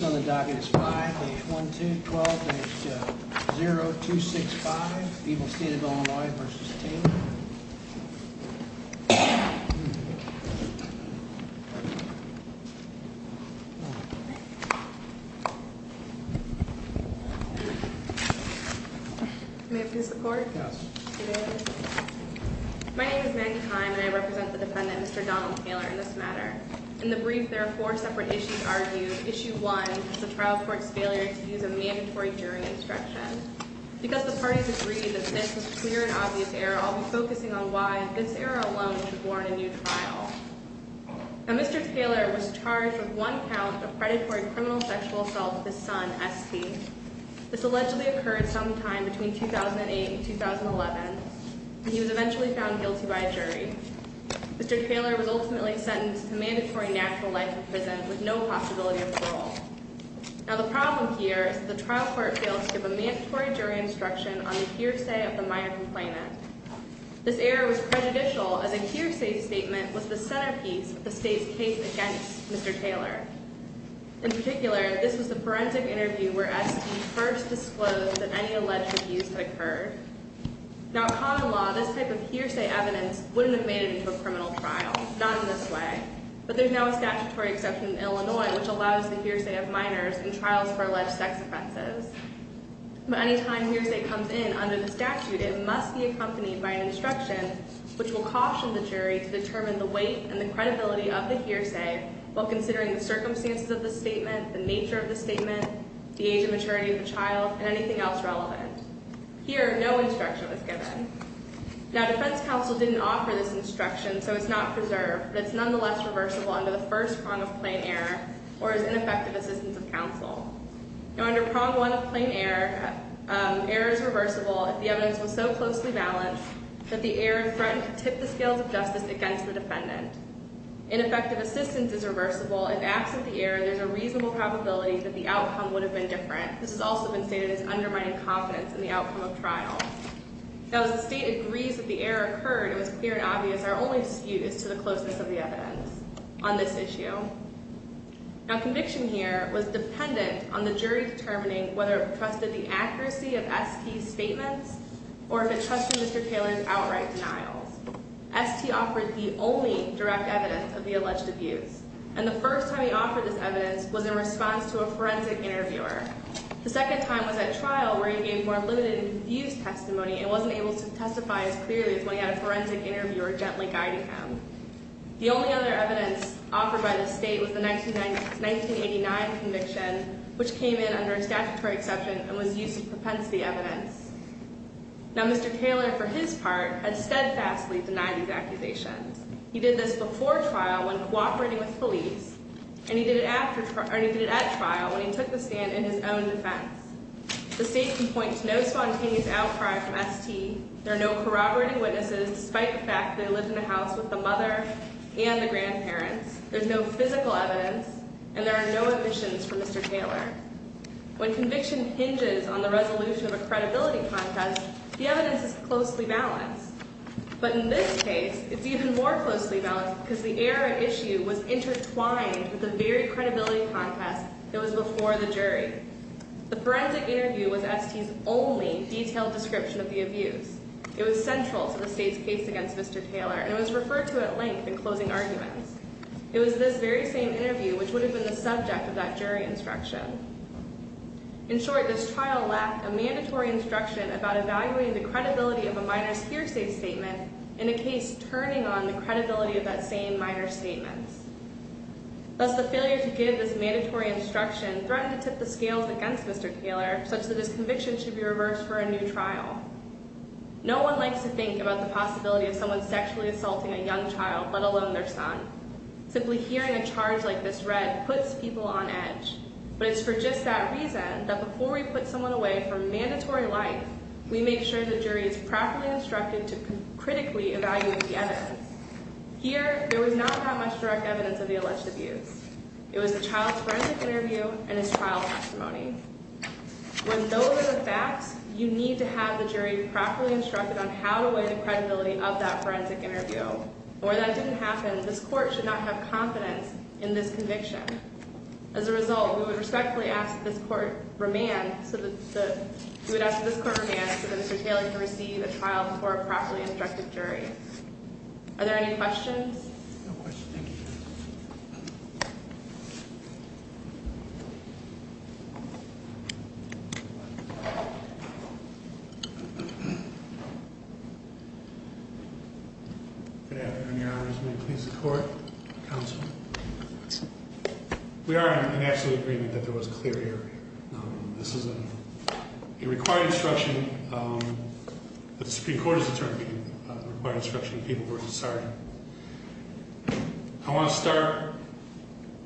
On the docket is 5-812-12-8-0265, People's State of Illinois v. Taylor. May I please have the report? Yes. My name is Mandy Heim and I represent the defendant Mr. Donald Taylor in this matter. In the brief, there are four separate issues argued. Issue one is the trial court's failure to use a mandatory jury instruction. Because the parties agreed that this was a clear and obvious error, I'll be focusing on why this error alone should warrant a new trial. Now, Mr. Taylor was charged with one count of predatory criminal sexual assault with his son, S.P. This allegedly occurred sometime between 2008 and 2011, and he was eventually found guilty by a jury. Mr. Taylor was ultimately sentenced to mandatory natural life in prison with no possibility of parole. Now, the problem here is that the trial court failed to give a mandatory jury instruction on the hearsay of the minor complainant. This error was prejudicial as a hearsay statement was the centerpiece of the state's case against Mr. Taylor. In particular, this was the forensic interview where S.P. first disclosed that any alleged abuse had occurred. Now, in common law, this type of hearsay evidence wouldn't have made it into a criminal trial, not in this way. But there's now a statutory exception in Illinois which allows the hearsay of minors in trials for alleged sex offenses. But any time hearsay comes in under the statute, it must be accompanied by an instruction which will caution the jury to determine the weight and the credibility of the hearsay while considering the circumstances of the statement, the nature of the statement, the age and maturity of the child, and anything else relevant. Here, no instruction was given. Now, defense counsel didn't offer this instruction, so it's not preserved. But it's nonetheless reversible under the first prong of plain error or as ineffective assistance of counsel. Now, under prong one of plain error, error is reversible if the evidence was so closely balanced that the error threatened to tip the scales of justice against the defendant. Ineffective assistance is reversible. If absent the error, there's a reasonable probability that the outcome would have been different. This has also been stated as undermining confidence in the outcome of trial. Now, as the state agrees that the error occurred, it was clear and obvious our only dispute is to the closeness of the evidence on this issue. Now, conviction here was dependent on the jury determining whether it trusted the accuracy of ST's statements or if it trusted Mr. Taylor's outright denials. ST offered the only direct evidence of the alleged abuse. And the first time he offered this evidence was in response to a forensic interviewer. The second time was at trial where he gave more limited and confused testimony and wasn't able to testify as clearly as when he had a forensic interviewer gently guiding him. The only other evidence offered by the state was the 1989 conviction, which came in under a statutory exception and was used as propensity evidence. Now, Mr. Taylor, for his part, had steadfastly denied these accusations. He did this before trial when cooperating with police, and he did it at trial when he took the stand in his own defense. The state can point to no spontaneous outcry from ST. There are no corroborating witnesses, despite the fact they lived in a house with the mother and the grandparents. There's no physical evidence, and there are no omissions from Mr. Taylor. When conviction hinges on the resolution of a credibility contest, the evidence is closely balanced. But in this case, it's even more closely balanced because the error at issue was intertwined with the very credibility contest that was before the jury. The forensic interview was ST's only detailed description of the abuse. It was central to the state's case against Mr. Taylor, and it was referred to at length in closing arguments. It was this very same interview which would have been the subject of that jury instruction. In short, this trial lacked a mandatory instruction about evaluating the credibility of a minor's hearsay statement in a case turning on the credibility of that same minor's statements. Thus, the failure to give this mandatory instruction threatened to tip the scales against Mr. Taylor, such that his conviction should be reversed for a new trial. No one likes to think about the possibility of someone sexually assaulting a young child, let alone their son. Simply hearing a charge like this read puts people on edge. But it's for just that reason that before we put someone away for mandatory life, we make sure the jury is properly instructed to critically evaluate the evidence. Here, there was not that much direct evidence of the alleged abuse. It was the child's forensic interview and his trial testimony. When those are the facts, you need to have the jury properly instructed on how to weigh the credibility of that forensic interview. And where that didn't happen, this court should not have confidence in this conviction. As a result, we would respectfully ask that this court remand so that Mr. Taylor can receive a trial before a properly instructed jury. Are there any questions? No questions, thank you. Good afternoon, Your Honors. May it please the court? Counsel? We are in absolute agreement that there was clear error here. This is a required instruction. The Supreme Court has determined it's a required instruction for people to start. I want to start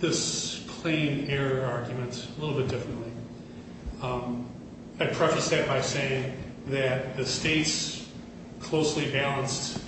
this plain error argument a little bit differently. I preface that by saying that the state's closely balanced,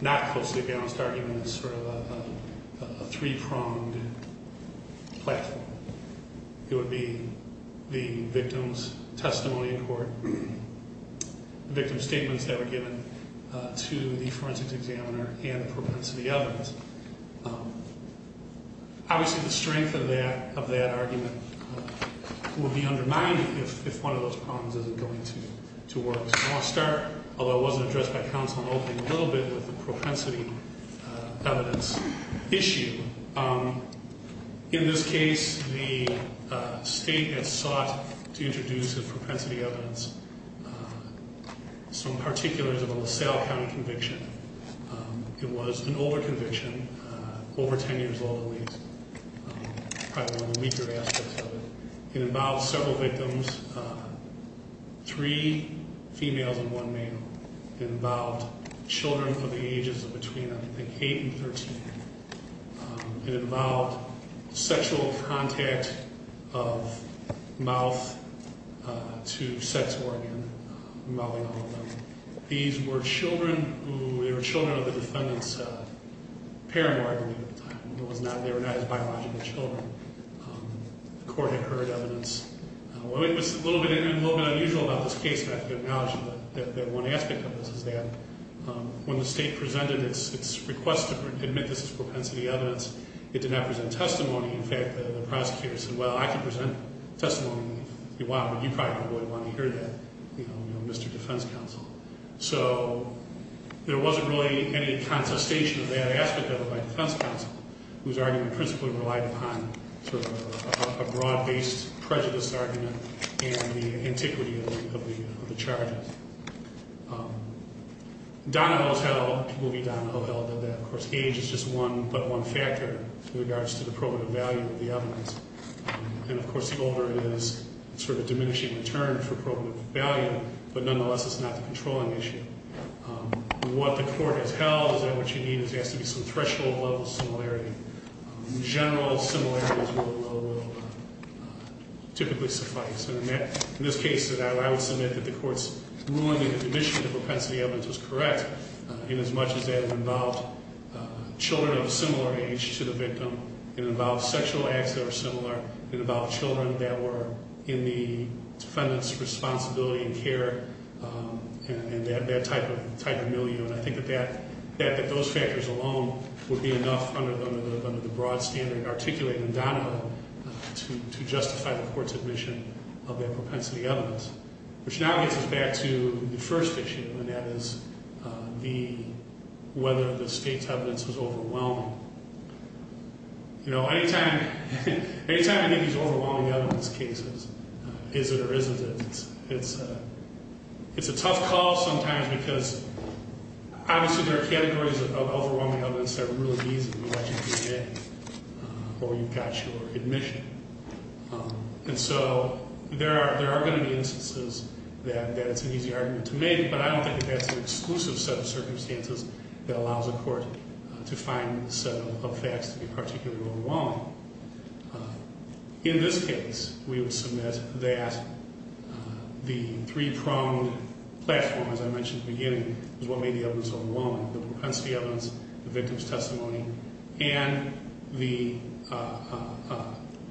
not closely balanced argument is sort of a three-pronged platform. It would be the victim's testimony in court, the victim's statements that were given to the forensic examiner, and the propensity evidence. Obviously, the strength of that argument would be undermined if one of those problems isn't going to work. So I want to start, although it wasn't addressed by counsel, I'm opening a little bit with the propensity evidence issue. In this case, the state had sought to introduce as propensity evidence some particulars of a LaSalle County conviction. It was an older conviction, over 10 years old at least, probably one of the weaker aspects of it. It involved several victims, three females and one male. It involved children from the ages of between, I think, 8 and 13. It involved sexual contact of mouth to sex organ involving all of them. These were children of the defendant's parent, I believe, at the time. They were not his biological children. The court had heard evidence. It was a little bit unusual about this case, but I have to acknowledge that one aspect of this is that when the state presented its request to admit this as propensity evidence, it did not present testimony. In fact, the prosecutor said, well, I can present testimony if you want, but you probably wouldn't want to hear that, you know, Mr. Defense Counsel. So there wasn't really any contestation of that aspect of it by Defense Counsel, whose argument principally relied upon sort of a broad-based prejudice argument and the antiquity of the charges. Donna Hohel did that. Of course, age is just one but one factor in regards to the probative value of the evidence. And, of course, the older it is, it's sort of a diminishing return for probative value, but nonetheless, it's not the controlling issue. What the court has held is that what you need is asked to be some threshold level similarity. General similarities will typically suffice. And in this case, I would submit that the court's ruling in admission of the propensity evidence was correct in as much as that it involved children of a similar age to the victim. It involved sexual acts that were similar. It involved children that were in the defendant's responsibility and care and that type of milieu. And I think that those factors alone would be enough under the broad standard articulated in Donna Hohel to justify the court's admission of that propensity evidence. Which now gets us back to the first issue, and that is whether the state's evidence was overwhelming. You know, any time you get these overwhelming evidence cases, is it or isn't it, it's a tough call sometimes because obviously there are categories of overwhelming evidence that are really easy to get or you've got your admission. And so there are going to be instances that it's an easy argument to make, but I don't think it has an exclusive set of circumstances that allows a court to find a set of facts to be particularly overwhelming. In this case, we would submit that the three-pronged platform, as I mentioned at the beginning, is what made the evidence overwhelming. The propensity evidence, the victim's testimony, and the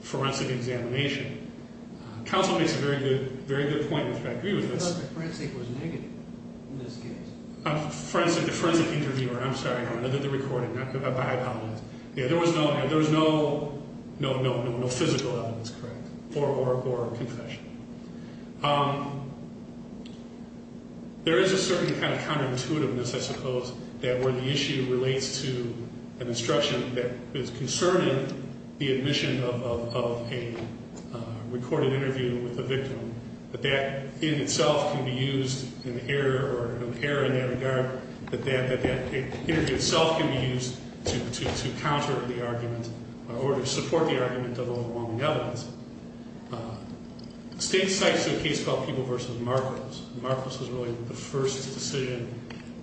forensic examination. Counsel makes a very good point in which I agree with. I thought the forensic was negative in this case. Forensic interviewer, I'm sorry. I did the recording. I apologize. Yeah, there was no physical evidence, correct, or confession. There is a certain kind of counterintuitiveness, I suppose, where the issue relates to an instruction that is concerning the admission of a recorded interview with a victim. But that in itself can be used in error or an error in that regard, that that interview itself can be used to counter the argument or to support the argument of overwhelming evidence. State cites a case called People v. Marcos. Marcos was really the first decision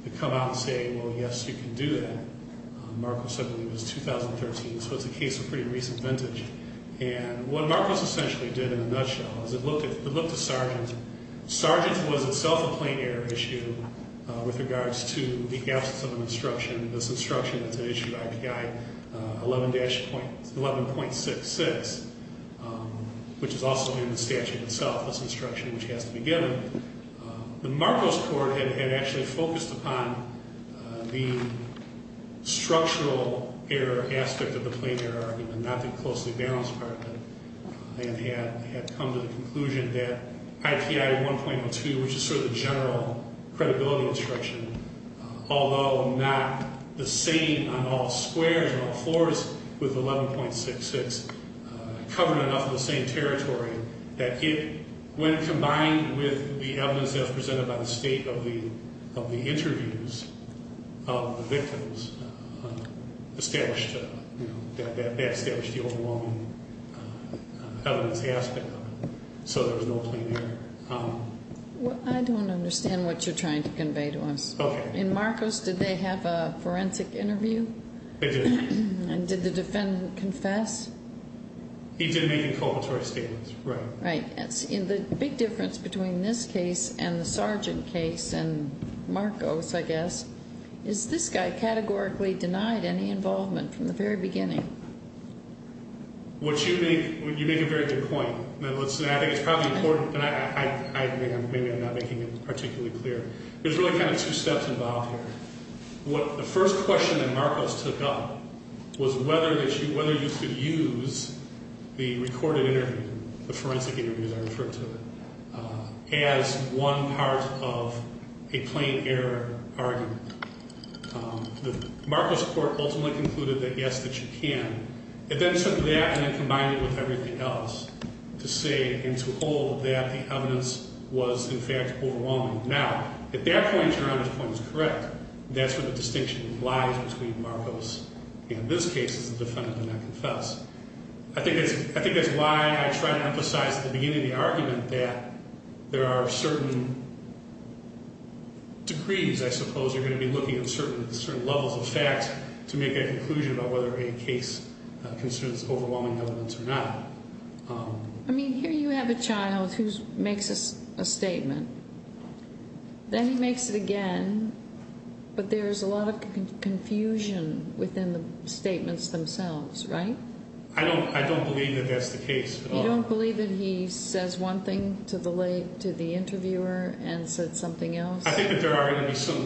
to come out and say, well, yes, you can do that. Marcos, I believe, was 2013, so it's a case of pretty recent vintage. And what Marcos essentially did in a nutshell is it looked at Sargent. Sargent was itself a plain error issue with regards to the absence of an instruction. This instruction is an issue of IPI 11.66, which is also in the statute itself, this instruction, which has to be given. The Marcos court had actually focused upon the structural error aspect of the plain error argument, not the closely balanced part of it, and had come to the conclusion that IPI 1.02, which is sort of the general credibility instruction, although not the same on all squares and all floors with 11.66 covered enough of the same territory, that it, when combined with the evidence as presented by the state of the interviews of the victims, established the overwhelming evidence aspect of it. So there was no plain error. Well, I don't understand what you're trying to convey to us. Okay. In Marcos, did they have a forensic interview? They did. And did the defendant confess? He did make an inculpatory statement, right. Right. The big difference between this case and the Sargent case and Marcos, I guess, is this guy categorically denied any involvement from the very beginning. What you make, you make a very good point. Now, listen, I think it's probably important, and maybe I'm not making it particularly clear. There's really kind of two steps involved here. The first question that Marcos took up was whether you could use the recorded interview, the forensic interviews I referred to, as one part of a plain error argument. Marcos court ultimately concluded that, yes, that you can. It then took that and then combined it with everything else to say and to hold that the evidence was, in fact, overwhelming. Now, at that point, Your Honor's point is correct. That's where the distinction lies between Marcos and this case is the defendant did not confess. I think that's why I tried to emphasize at the beginning of the argument that there are certain degrees, I suppose, you're going to be looking at certain levels of facts to make a conclusion about whether a case concerns overwhelming evidence or not. I mean, here you have a child who makes a statement. Then he makes it again, but there's a lot of confusion within the statements themselves, right? I don't believe that that's the case at all. You don't believe that he says one thing to the interviewer and said something else? I think that there are going to be some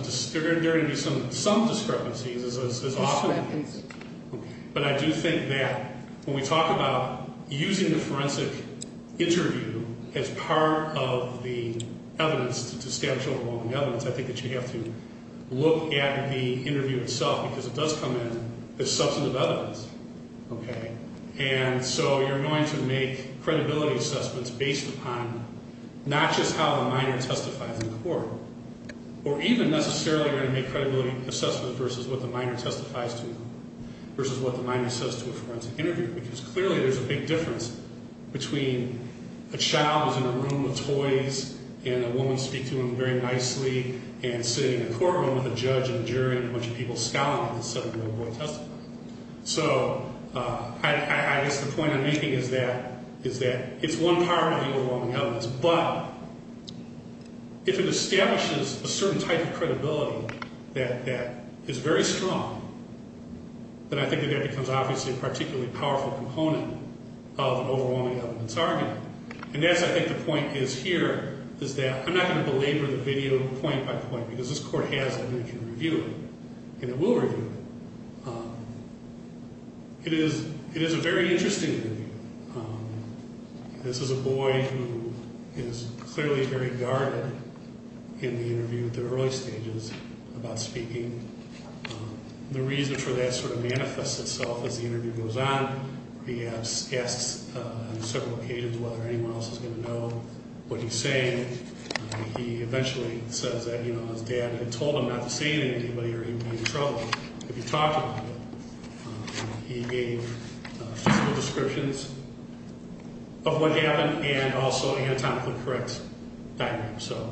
discrepancies as often happens. But I do think that when we talk about using the forensic interview as part of the evidence to establish overwhelming evidence, I think that you have to look at the interview itself because it does come in as substantive evidence. Okay? And so you're going to make credibility assessments based upon not just how the minor testifies in court, or even necessarily you're going to make credibility assessments versus what the minor testifies to versus what the minor says to a forensic interviewer. Because clearly there's a big difference between a child who's in a room with toys and a woman speaking to him very nicely and sitting in a courtroom with a judge and jury and a bunch of people scowling instead of a little boy testifying. So I guess the point I'm making is that it's one part of the overwhelming evidence, but if it establishes a certain type of credibility that is very strong, then I think that that becomes obviously a particularly powerful component of overwhelming evidence argument. And that's, I think, the point is here is that I'm not going to belabor the video point by point because this court has evidence to review it, and it will review it. It is a very interesting interview. This is a boy who is clearly very guarded in the interview at the early stages about speaking. The reason for that sort of manifests itself as the interview goes on. He asks on several occasions whether anyone else is going to know what he's saying. He eventually says that, you know, his dad had told him not to say anything to anybody or he would be in trouble if he talked about it. He gave physical descriptions of what happened and also anatomically correct diagrams. So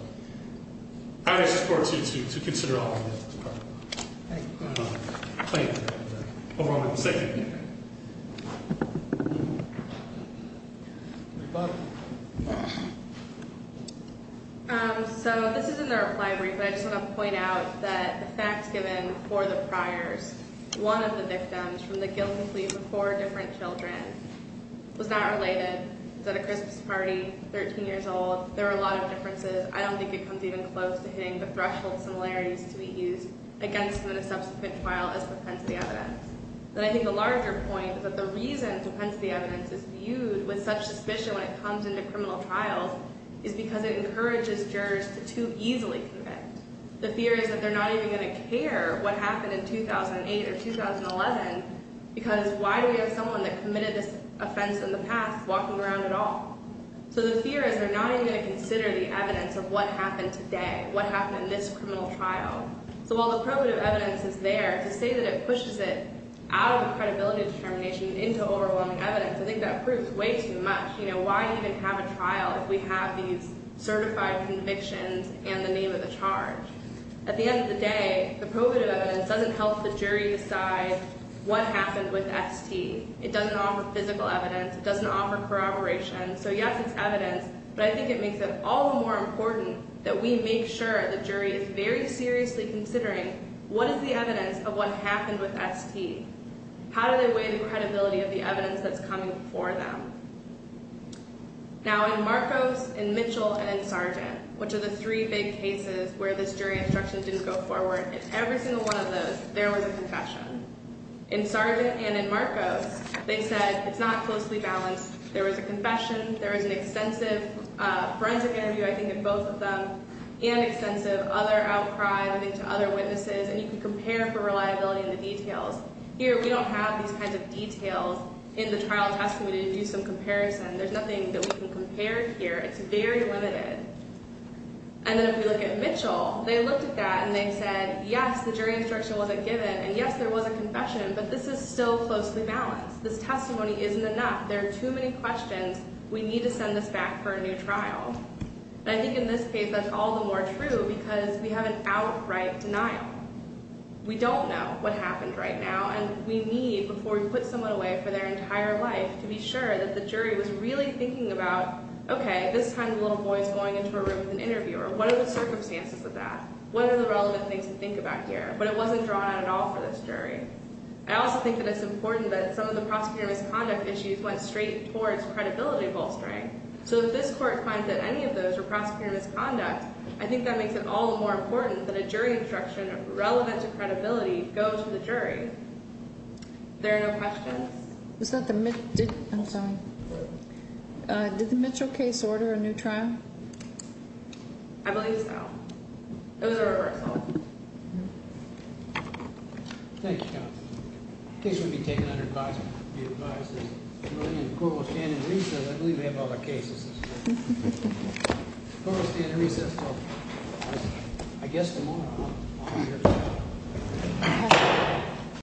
I ask this court to consider all of that. Thank you. Thank you. Over to the second. So this is in the reply brief, but I just want to point out that the facts given for the priors, one of the victims from the guilty plea of the four different children was not related, was at a Christmas party, 13 years old. There were a lot of differences. I don't think it comes even close to hitting the threshold similarities to be used against them in a subsequent trial as propensity evidence. And I think a larger point is that the reason propensity evidence is viewed with such suspicion when it comes into criminal trials is because it encourages jurors to too easily commit. The fear is that they're not even going to care what happened in 2008 or 2011 because why do we have someone that committed this offense in the past walking around at all? So the fear is they're not even going to consider the evidence of what happened today, what happened in this criminal trial. So while the probative evidence is there to say that it pushes it out of the credibility determination into overwhelming evidence, I think that proves way too much. You know, why even have a trial if we have these certified convictions and the name of the charge? At the end of the day, the probative evidence doesn't help the jury decide what happened with ST. It doesn't offer physical evidence. It doesn't offer corroboration. So yes, it's evidence, but I think it makes it all the more important that we make sure the jury is very seriously considering what is the evidence of what happened with ST. How do they weigh the credibility of the evidence that's coming before them? Now, in Marcos, in Mitchell, and in Sargent, which are the three big cases where this jury instruction didn't go forward, in every single one of those, there was a confession. In Sargent and in Marcos, they said it's not closely balanced. There was a confession. There was an extensive forensic interview, I think, in both of them, and extensive other outcry, I think, to other witnesses. And you can compare for reliability in the details. Here, we don't have these kinds of details in the trial testimony to do some comparison. There's nothing that we can compare here. It's very limited. And then if we look at Mitchell, they looked at that, and they said, yes, the jury instruction wasn't given, and yes, there was a confession, but this is still closely balanced. This testimony isn't enough. There are too many questions. We need to send this back for a new trial. And I think in this case, that's all the more true because we have an outright denial. We don't know what happened right now, and we need, before we put someone away for their entire life, to be sure that the jury was really thinking about, okay, at this time, the little boy is going into a room with an interviewer. What are the circumstances of that? What are the relevant things to think about here? But it wasn't drawn out at all for this jury. I also think that it's important that some of the prosecutor misconduct issues went straight towards credibility bolstering. So if this court finds that any of those were prosecutor misconduct, I think that makes it all the more important that a jury instruction relevant to credibility goes to the jury. There are no questions. I'm sorry. Did the Mitchell case order a new trial? I believe so. It was a reversal. Thank you, counsel. The case will be taken under advisement. It will be revised. The court will stand in recess. I believe we have other cases. The court will stand in recess until, I guess, tomorrow.